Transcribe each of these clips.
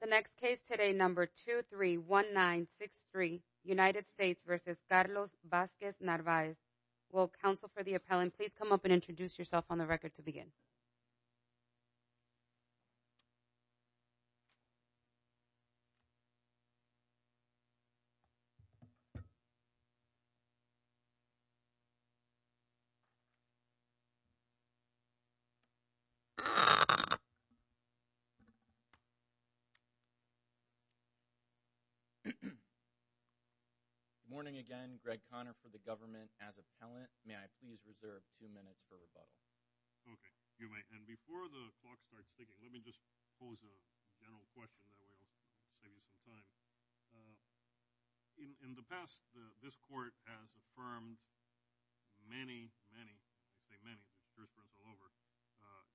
The next case today, number 231963, United States v. Carlos Vazquez-Narvaez. Will counsel for the appellant please come up and introduce yourself on the record to the podium? Good morning again. Greg Conner for the government. As appellant, may I please reserve two minutes for rebuttal? Okay. You may. And before the clock starts ticking, let me just pose a general question that we'll save you some time. In the past, this court has affirmed many, many, I say many, the jurisprudence all over,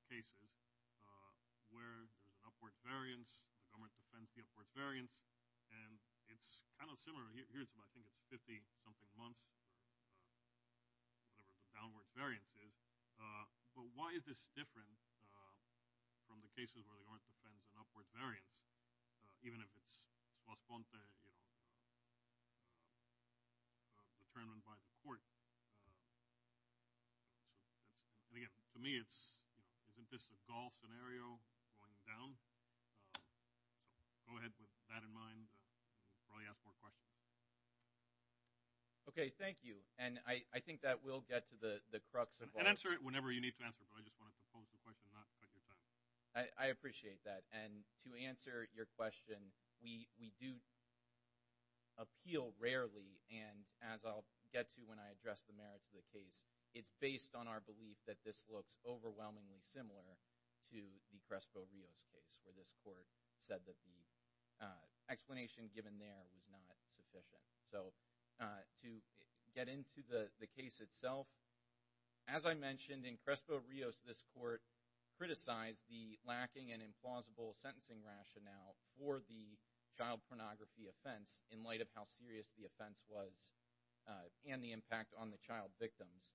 cases where there's an upward variance, the government defends the upward variance, and it's kind of similar. Here it's about, I think it's 50-something months, whatever the downward variance is. But why is this different from the cases where the government defends an upward variance, even if it's correspond to, you know, determined by the court? And again, to me it's, isn't this a golf scenario going down? Go ahead. With that in mind, we'll probably ask more questions. Okay. Thank you. And I think that we'll get to the crux of all this. And answer it whenever you need to answer it, but I just want to pose the question, not cut your time. I appreciate that. And to answer your question, we do appeal rarely, and as I'll get to when I address the merits of the case, it's based on our belief that this looks overwhelmingly similar to the Crespo-Rios case, where this court said that the explanation given there was not sufficient. So to get into the case itself, as I mentioned, in Crespo-Rios this court criticized the lacking and implausible sentencing rationale for the child pornography offense in light of how serious the offense was and the impact on the child victims.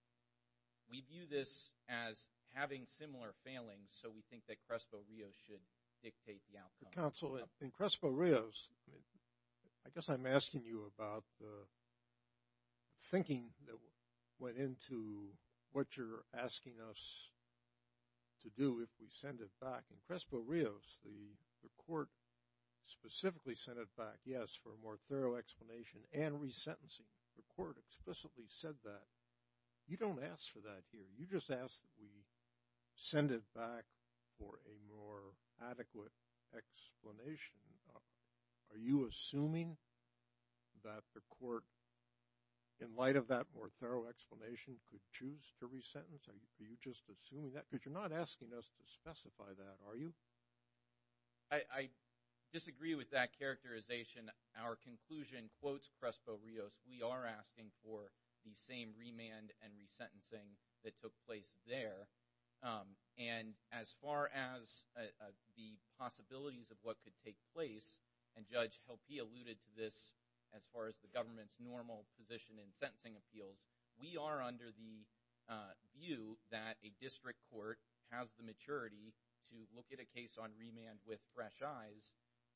We view this as having similar failings, so we think that Crespo-Rios should dictate the outcome. Counsel, in Crespo-Rios, I guess I'm asking you about the thinking that went into what you're asking us to do if we send it back. In Crespo-Rios, the court specifically sent it back, yes, for a more thorough explanation and resentencing. The court explicitly said that. You don't ask for that here. You just ask that we send it back for a more adequate explanation. Are you assuming that the court, in light of that more thorough explanation, could choose to resentence? Are you just assuming that? Because you're not asking us to specify that, are you? I disagree with that characterization. Our conclusion quotes Crespo-Rios. We are asking for the same remand and resentencing that took place there. And as far as the possibilities of what could take place, and Judge Helpe alluded to this as far as the government's normal position in sentencing appeals, we are under the view that a district court has the maturity to look at a case on remand with fresh eyes,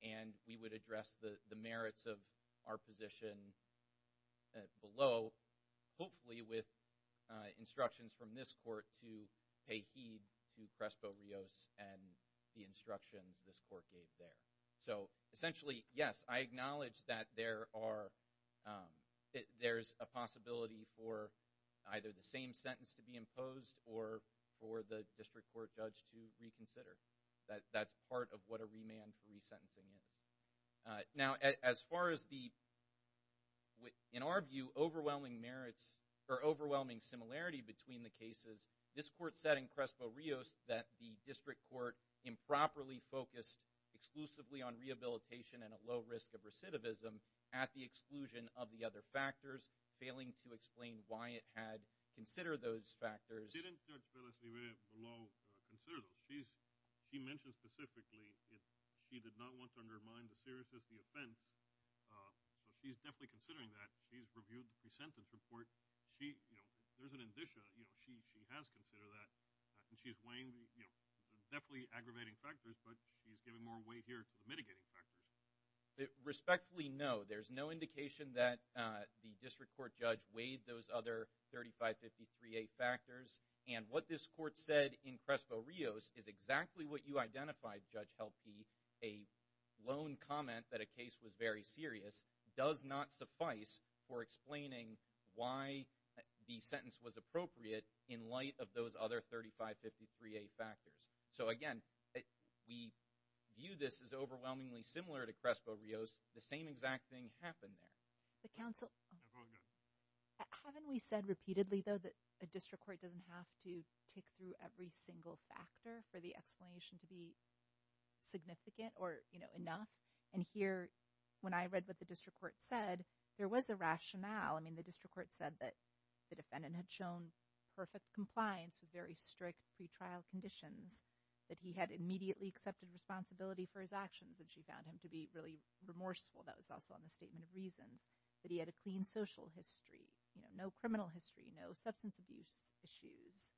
and we would address the merits of our position below, hopefully with instructions from this court to pay heed to Crespo-Rios and the instructions this court gave there. So essentially, yes, I acknowledge that there's a possibility for either the same sentence to be imposed or for the district court judge to reconsider. That's part of what a remand for resentencing is. Now, as far as the, in our view, overwhelming merits or overwhelming similarity between the cases, this court said in Crespo-Rios that the district court improperly focused exclusively on rehabilitation and a low risk of recidivism at the exclusion of the other factors, failing to explain why it had considered those factors. Didn't Judge Vélez-Livet below consider those? She mentioned specifically that she did not want to undermine the seriousness of the offense, but she's definitely considering that. She's reviewed the sentence report. There's an indicia that she has considered that, and she's weighing the definitely aggravating factors, but she's giving more weight here to the mitigating factors. Respectfully, no. There's no indication that the district court judge weighed those other 3553A factors, and what this court said in Crespo-Rios is exactly what you identified, Judge Helpe. A lone comment that a case was very serious does not suffice for explaining why the sentence was appropriate in light of those other 3553A factors. So again, we view this as overwhelmingly similar to Crespo-Rios. The same exact thing happened there. But, counsel, haven't we said repeatedly, though, that a district court doesn't have to tick through every single factor for the explanation to be significant or enough? And here, when I read what the district court said, there was a rationale. I mean, the district court said that the defendant had shown perfect compliance with very strict pretrial conditions, that he had immediately accepted responsibility for his actions, and she found him to be really remorseful. That was also on the statement of reasons, that he had a clean social history, no criminal history, no substance abuse issues,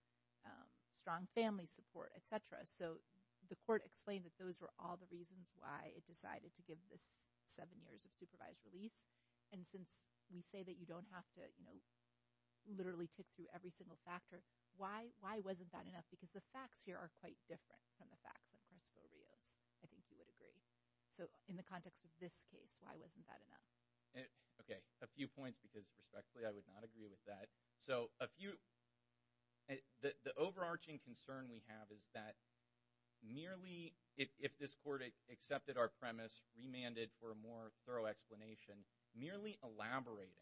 strong family support, et cetera. So the court explained that those were all the reasons why it decided to give this seven years of supervised release. And since we say that you don't have to literally tick through every single factor, why wasn't that enough? Because the facts here are quite different from the facts in Crespo-Rios. I think you would agree. So in the context of this case, why wasn't that enough? Okay. A few points because, respectfully, I would not agree with that. So a few – the overarching concern we have is that merely – if this court accepted our premise, remanded for a more thorough explanation, merely elaborating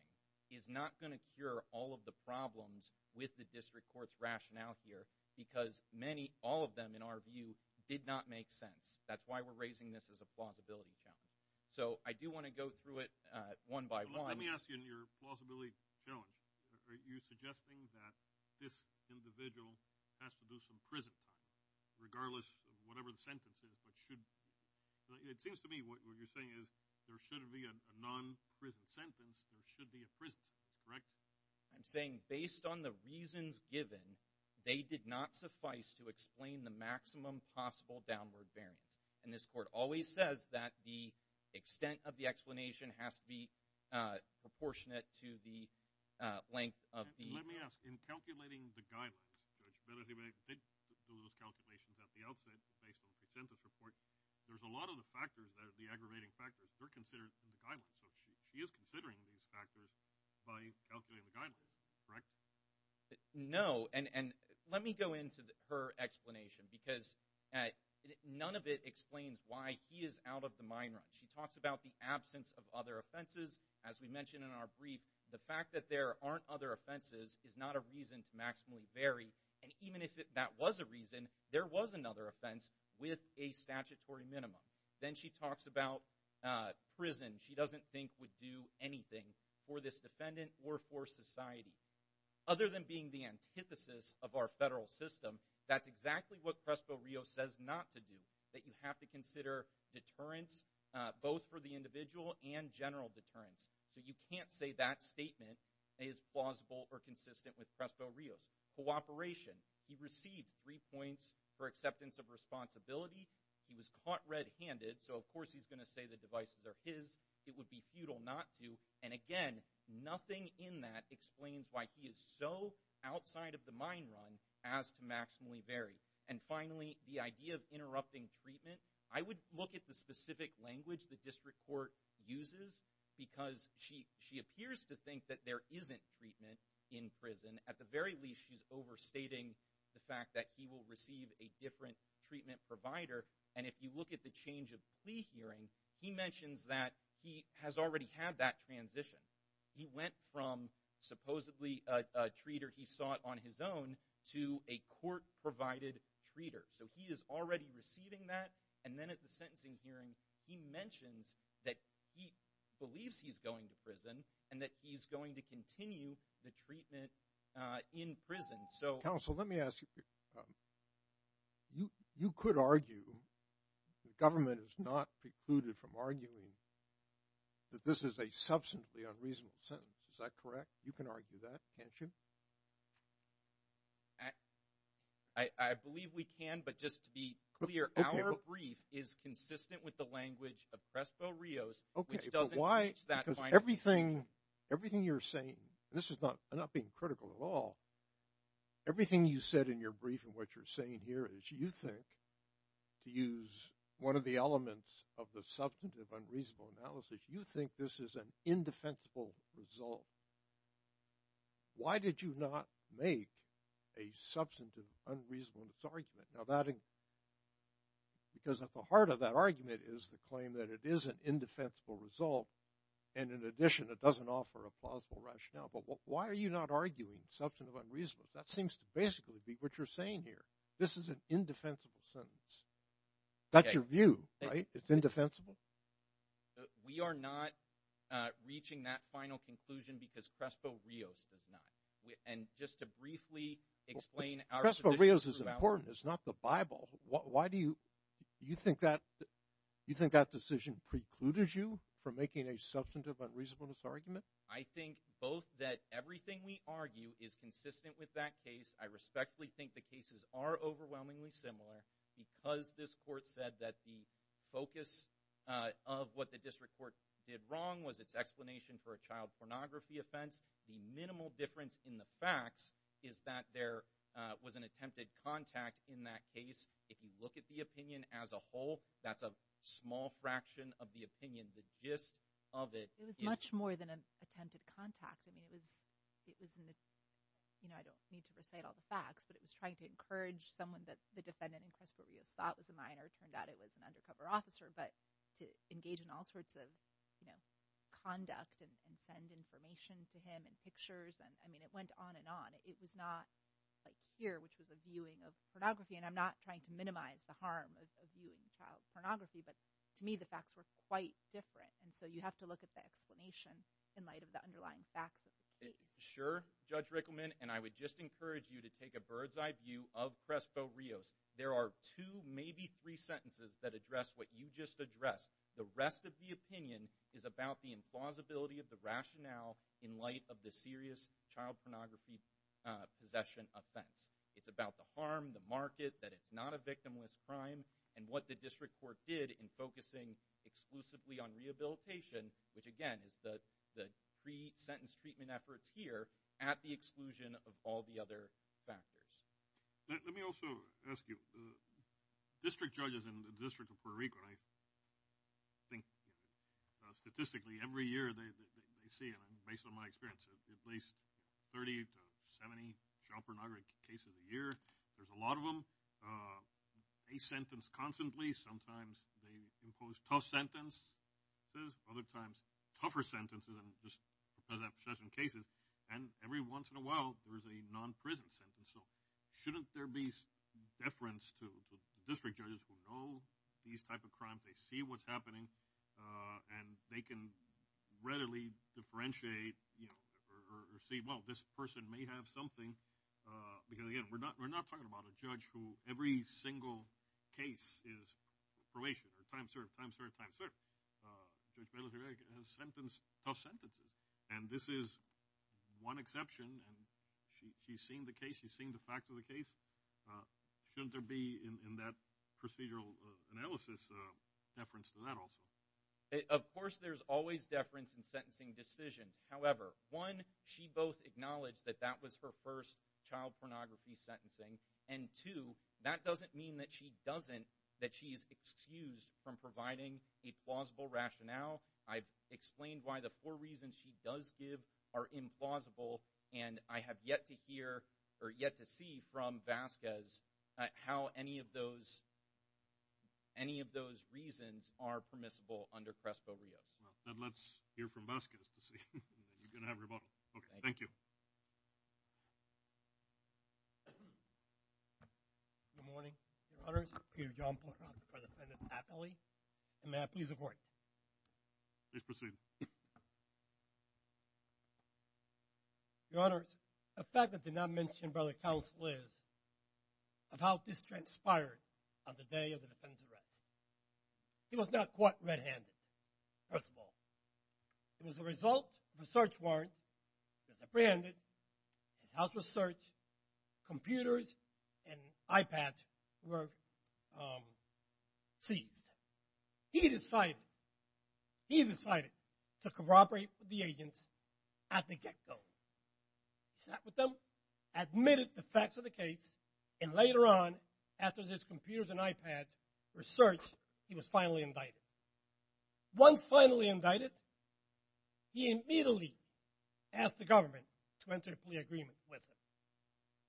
is not going to cure all of the problems with the district court's rationale here because many, all of them, in our view, did not make sense. That's why we're raising this as a plausibility challenge. So I do want to go through it one by one. Let me ask you in your plausibility challenge, are you suggesting that this individual has to do some prison time, regardless of whatever the sentence is, but should – it seems to me what you're saying is there shouldn't be a non-prison sentence. There should be a prison sentence, correct? I'm saying based on the reasons given, they did not suffice to explain the maximum possible downward variance. And this court always says that the extent of the explanation has to be proportionate to the length of the – Let me ask. In calculating the guidelines, Judge, whether they made those calculations at the outset based on the consensus report, there's a lot of the factors, the aggravating factors, they're considered in the guidelines. So she is considering these factors by calculating the guidelines, correct? No. And let me go into her explanation because none of it explains why he is out of the mine run. She talks about the absence of other offenses. As we mentioned in our brief, the fact that there aren't other offenses is not a reason to maximally vary. And even if that was a reason, there was another offense with a statutory minimum. Then she talks about prison. She doesn't think would do anything for this defendant or for society. Other than being the antithesis of our federal system, that's exactly what Prespo-Rios says not to do, that you have to consider deterrence both for the individual and general deterrence. So you can't say that statement is plausible or consistent with Prespo-Rios. Cooperation, he received three points for acceptance of responsibility. He was caught red-handed, so of course he's going to say the devices are his. It would be futile not to. And again, nothing in that explains why he is so outside of the mine run as to maximally vary. And finally, the idea of interrupting treatment. I would look at the specific language the district court uses because she appears to think that there isn't treatment in prison. At the very least, she's overstating the fact that he will receive a different treatment provider. And if you look at the change of plea hearing, he mentions that he has already had that transition. He went from supposedly a treater he sought on his own to a court-provided treater. So he is already receiving that. And then at the sentencing hearing, he mentions that he believes he's going to prison and that he's going to continue the treatment in prison. Counsel, let me ask you. You could argue, the government is not precluded from arguing, that this is a substantially unreasonable sentence. Is that correct? You can argue that, can't you? I believe we can, but just to be clear, our brief is consistent with the language of Prespo-Rios, which doesn't change that final sentence. Everything you're saying, and this is not being critical at all, everything you said in your brief and what you're saying here is you think, to use one of the elements of the substantive unreasonable analysis, you think this is an indefensible result. Why did you not make a substantive unreasonableness argument? Because at the heart of that argument is the claim that it is an indefensible result and, in addition, it doesn't offer a plausible rationale. But why are you not arguing substantive unreasonableness? That seems to basically be what you're saying here. This is an indefensible sentence. That's your view, right? It's indefensible? We are not reaching that final conclusion because Prespo-Rios does not. And just to briefly explain our position throughout. Prespo-Rios is important. It's not the Bible. Why do you think that decision precludes you from making a substantive unreasonableness argument? I think both that everything we argue is consistent with that case. I respectfully think the cases are overwhelmingly similar because this court said that the focus of what the district court did wrong was its explanation for a child pornography offense. The minimal difference in the facts is that there was an attempted contact in that case. If you look at the opinion as a whole, that's a small fraction of the opinion. The gist of it is— It was much more than an attempted contact. I don't need to recite all the facts, but it was trying to encourage someone that the defendant in Prespo-Rios thought was a minor. It turned out it was an undercover officer. But to engage in all sorts of conduct and send information to him and pictures, I mean, it went on and on. It was not like here, which was a viewing of pornography. And I'm not trying to minimize the harm of viewing child pornography, but to me the facts were quite different. And so you have to look at the explanation in light of the underlying facts of the case. Sure, Judge Rickleman, and I would just encourage you to take a bird's eye view of Prespo-Rios. There are two, maybe three sentences that address what you just addressed. The rest of the opinion is about the implausibility of the rationale in light of the serious child pornography possession offense. It's about the harm, the market, that it's not a victimless crime, and what the district court did in focusing exclusively on rehabilitation, which again is the pre-sentence treatment efforts here, at the exclusion of all the other factors. Let me also ask you, district judges in the District of Puerto Rico, and I think statistically every year they see, and based on my experience, at least 30 to 70 child pornography cases a year. There's a lot of them. They sentence constantly. Sometimes they impose tough sentences. Other times tougher sentences than just possession cases. And every once in a while there is a non-prison sentence. So shouldn't there be deference to district judges who know these type of crimes, they see what's happening, and they can readily differentiate or see, well, this person may have something. Because, again, we're not talking about a judge who every single case is probation or time served, time served, time served. Judge Bailiff-Durek has sentenced tough sentences, and this is one exception. She's seen the case. She's seen the facts of the case. Shouldn't there be in that procedural analysis deference to that also? Of course there's always deference in sentencing decisions. However, one, she both acknowledged that that was her first child pornography sentencing, and two, that doesn't mean that she doesn't, doesn't mean that she is excused from providing a plausible rationale. I've explained why the four reasons she does give are implausible, and I have yet to hear or yet to see from Vasquez how any of those reasons are permissible under CRESPO-Rios. Let's hear from Vasquez to see. You're going to have rebuttal. Okay, thank you. Good morning, Your Honors. Peter John Pochock for the defendant, happily, and may I please have a word? Please proceed. Your Honors, a fact that did not mention by the counsel is about this transpired on the day of the defendant's arrest. He was not caught red-handed, first of all. It was the result of a search warrant. He was apprehended. His house was searched. Computers and iPads were seized. He decided, he decided to corroborate with the agents at the get-go. He sat with them, admitted the facts of the case, and later on, after his computers and iPads were searched, he was finally indicted. Once finally indicted, he immediately asked the government to enter a plea agreement with him.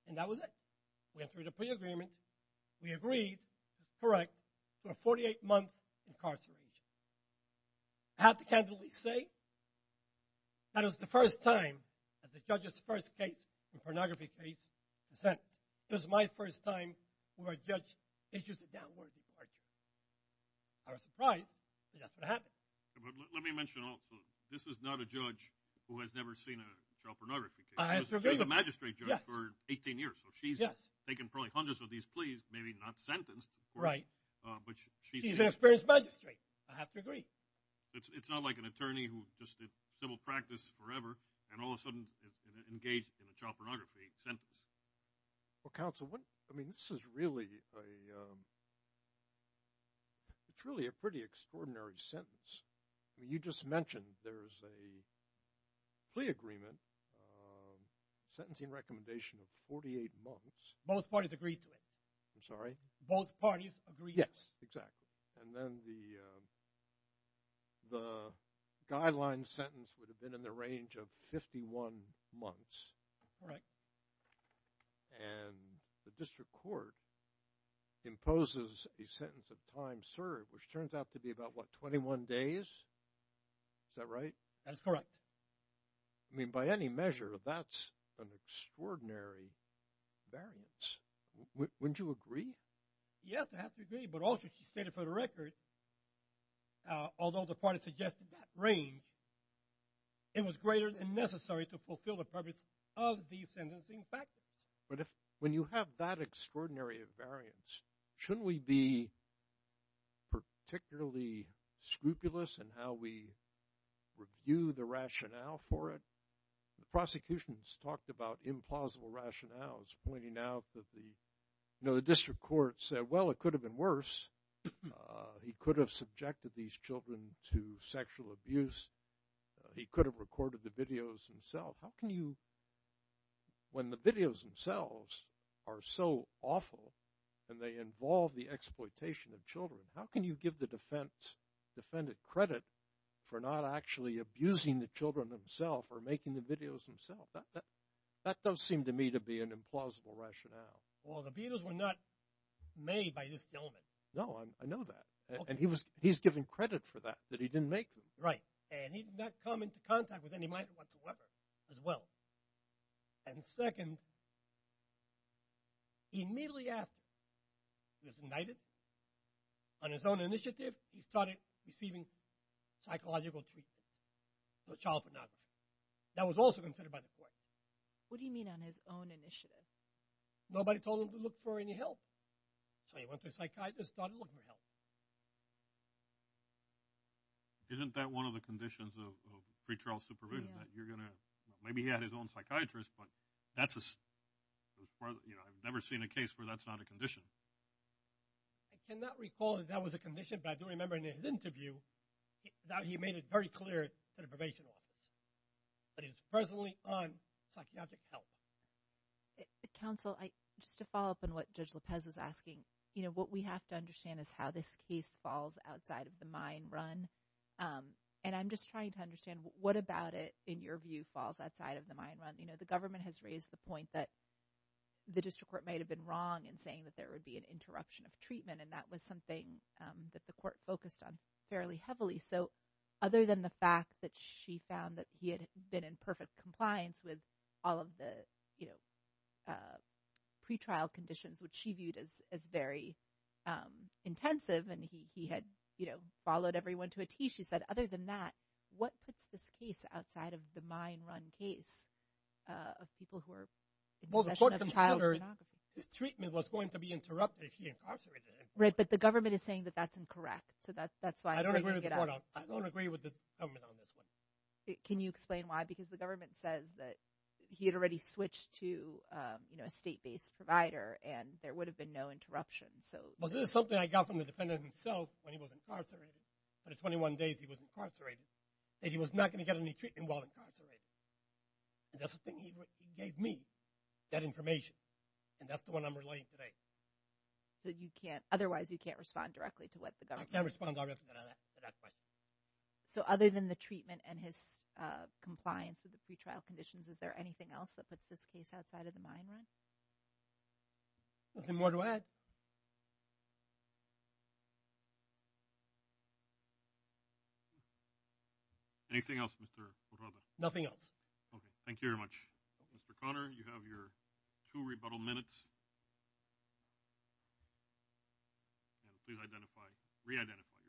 And that was it. We entered a plea agreement. We agreed, correct, to a 48-month incarceration. I have to candidly say that it was the first time, as the judge's first case in a pornography case, in a sentence, it was my first time where a judge issues a downward departure. I was surprised that that's what happened. But let me mention also, this is not a judge who has never seen a child pornography case. She was a magistrate judge for 18 years, so she's taken probably hundreds of these pleas, maybe not sentenced. Right. She's an experienced magistrate. I have to agree. It's not like an attorney who just did civil practice forever and all of a sudden engaged in a child pornography sentence. Well, counsel, I mean, this is really a pretty extraordinary sentence. You just mentioned there's a plea agreement, sentencing recommendation of 48 months. Both parties agreed to it. I'm sorry? Both parties agreed to it. Yes, exactly. And then the guideline sentence would have been in the range of 51 months. Correct. And the district court imposes a sentence of time served, which turns out to be about, what, 21 days? Is that right? That is correct. I mean, by any measure, that's an extraordinary variance. Wouldn't you agree? Yes, I have to agree. But also, she stated for the record, although the party suggested that range, it was greater than necessary to fulfill the purpose of these sentencing factors. But when you have that extraordinary variance, shouldn't we be particularly scrupulous in how we review the rationale for it? The prosecution has talked about implausible rationales, pointing out that the district court said, well, it could have been worse. He could have subjected these children to sexual abuse. He could have recorded the videos himself. How can you, when the videos themselves are so awful and they involve the exploitation of children, how can you give the defendant credit for not actually abusing the children himself or making the videos himself? That does seem to me to be an implausible rationale. Well, the videos were not made by this gentleman. No, I know that. And he's given credit for that, that he didn't make them. Right. And he did not come into contact with any minor whatsoever as well. And second, immediately after he was indicted, on his own initiative, he started receiving psychological treatment, no child pornography. That was also considered by the court. What do you mean on his own initiative? Nobody told him to look for any help. So he went to a psychiatrist and started looking for help. Isn't that one of the conditions of pretrial supervision, that you're going to – maybe he had his own psychiatrist, but that's a – I've never seen a case where that's not a condition. I cannot recall that that was a condition, but I do remember in his interview that he made it very clear to the probation office. But he's presently on psychiatric help. Counsel, just to follow up on what Judge Lopez is asking, what we have to understand is how this case falls outside of the mine run. And I'm just trying to understand what about it, in your view, falls outside of the mine run. The government has raised the point that the district court might have been wrong in saying that there would be an interruption of treatment, and that was something that the court focused on fairly heavily. So other than the fact that she found that he had been in perfect compliance with all of the pretrial conditions, which she viewed as very intensive and he had followed everyone to a T, she said other than that, what puts this case outside of the mine run case of people who are in possession of child pornography? Well, the court considered treatment was going to be interrupted if he incarcerated him. Right, but the government is saying that that's incorrect. So that's why I'm bringing it up. I don't agree with the court on it. I don't agree with the government on this one. Can you explain why? Because the government says that he had already switched to a state-based provider, and there would have been no interruption. Well, this is something I got from the defendant himself when he was incarcerated. For the 21 days he was incarcerated, that he was not going to get any treatment while incarcerated. And that's the thing he gave me, that information, and that's the one I'm relaying today. So you can't, otherwise you can't respond directly to what the government says. I can't respond directly to that question. So other than the treatment and his compliance with the pretrial conditions, is there anything else that puts this case outside of the mine run? Nothing more to add. Anything else, Mr. O'Rourke? Nothing else. Okay, thank you very much. Mr. Conner, you have your two rebuttal minutes. And please identify, re-identify yourself.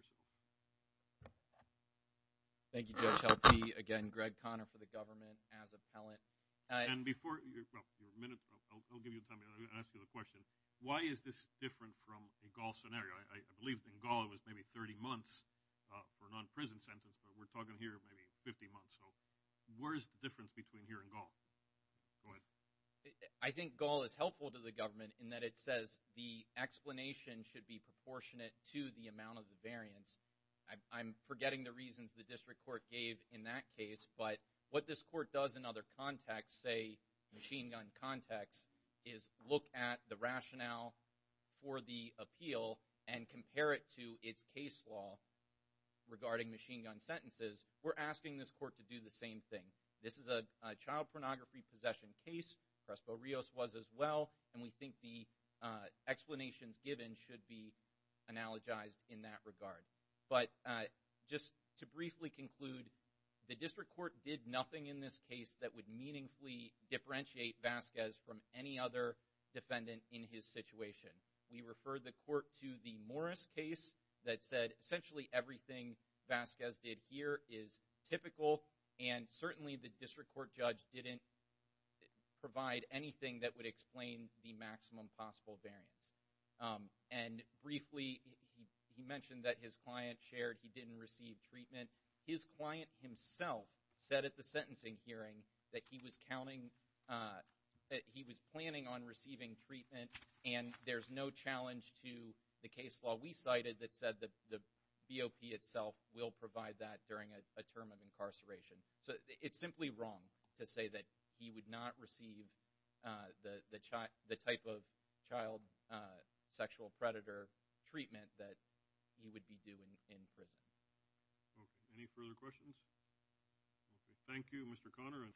Thank you, Judge Helke. Again, Greg Conner for the government as appellant. And before your minute, I'll give you time to ask you a question. Why is this different from a Gaul scenario? I believe in Gaul it was maybe 30 months for a non-prison sentence, but we're talking here maybe 50 months. So where is the difference between here and Gaul? Go ahead. I think Gaul is helpful to the government in that it says the explanation should be proportionate to the amount of the variance. I'm forgetting the reasons the district court gave in that case, but what this court does in other contexts, say machine gun contexts, is look at the rationale for the appeal and compare it to its case law regarding machine gun sentences. We're asking this court to do the same thing. This is a child pornography possession case, Prespo Rios was as well, and we think the explanations given should be analogized in that regard. But just to briefly conclude, the district court did nothing in this case that would meaningfully differentiate Vasquez from any other defendant in his situation. We refer the court to the Morris case that said essentially everything Vasquez did here is typical, and certainly the district court judge didn't provide anything that would explain the maximum possible variance. And briefly, he mentioned that his client shared he didn't receive treatment. His client himself said at the sentencing hearing that he was planning on receiving treatment, and there's no challenge to the case law we cited that said the BOP itself will provide that during a term of incarceration. So it's simply wrong to say that he would not receive the type of child sexual predator treatment that he would be doing in prison. Any further questions? Thank you, Mr. Conner.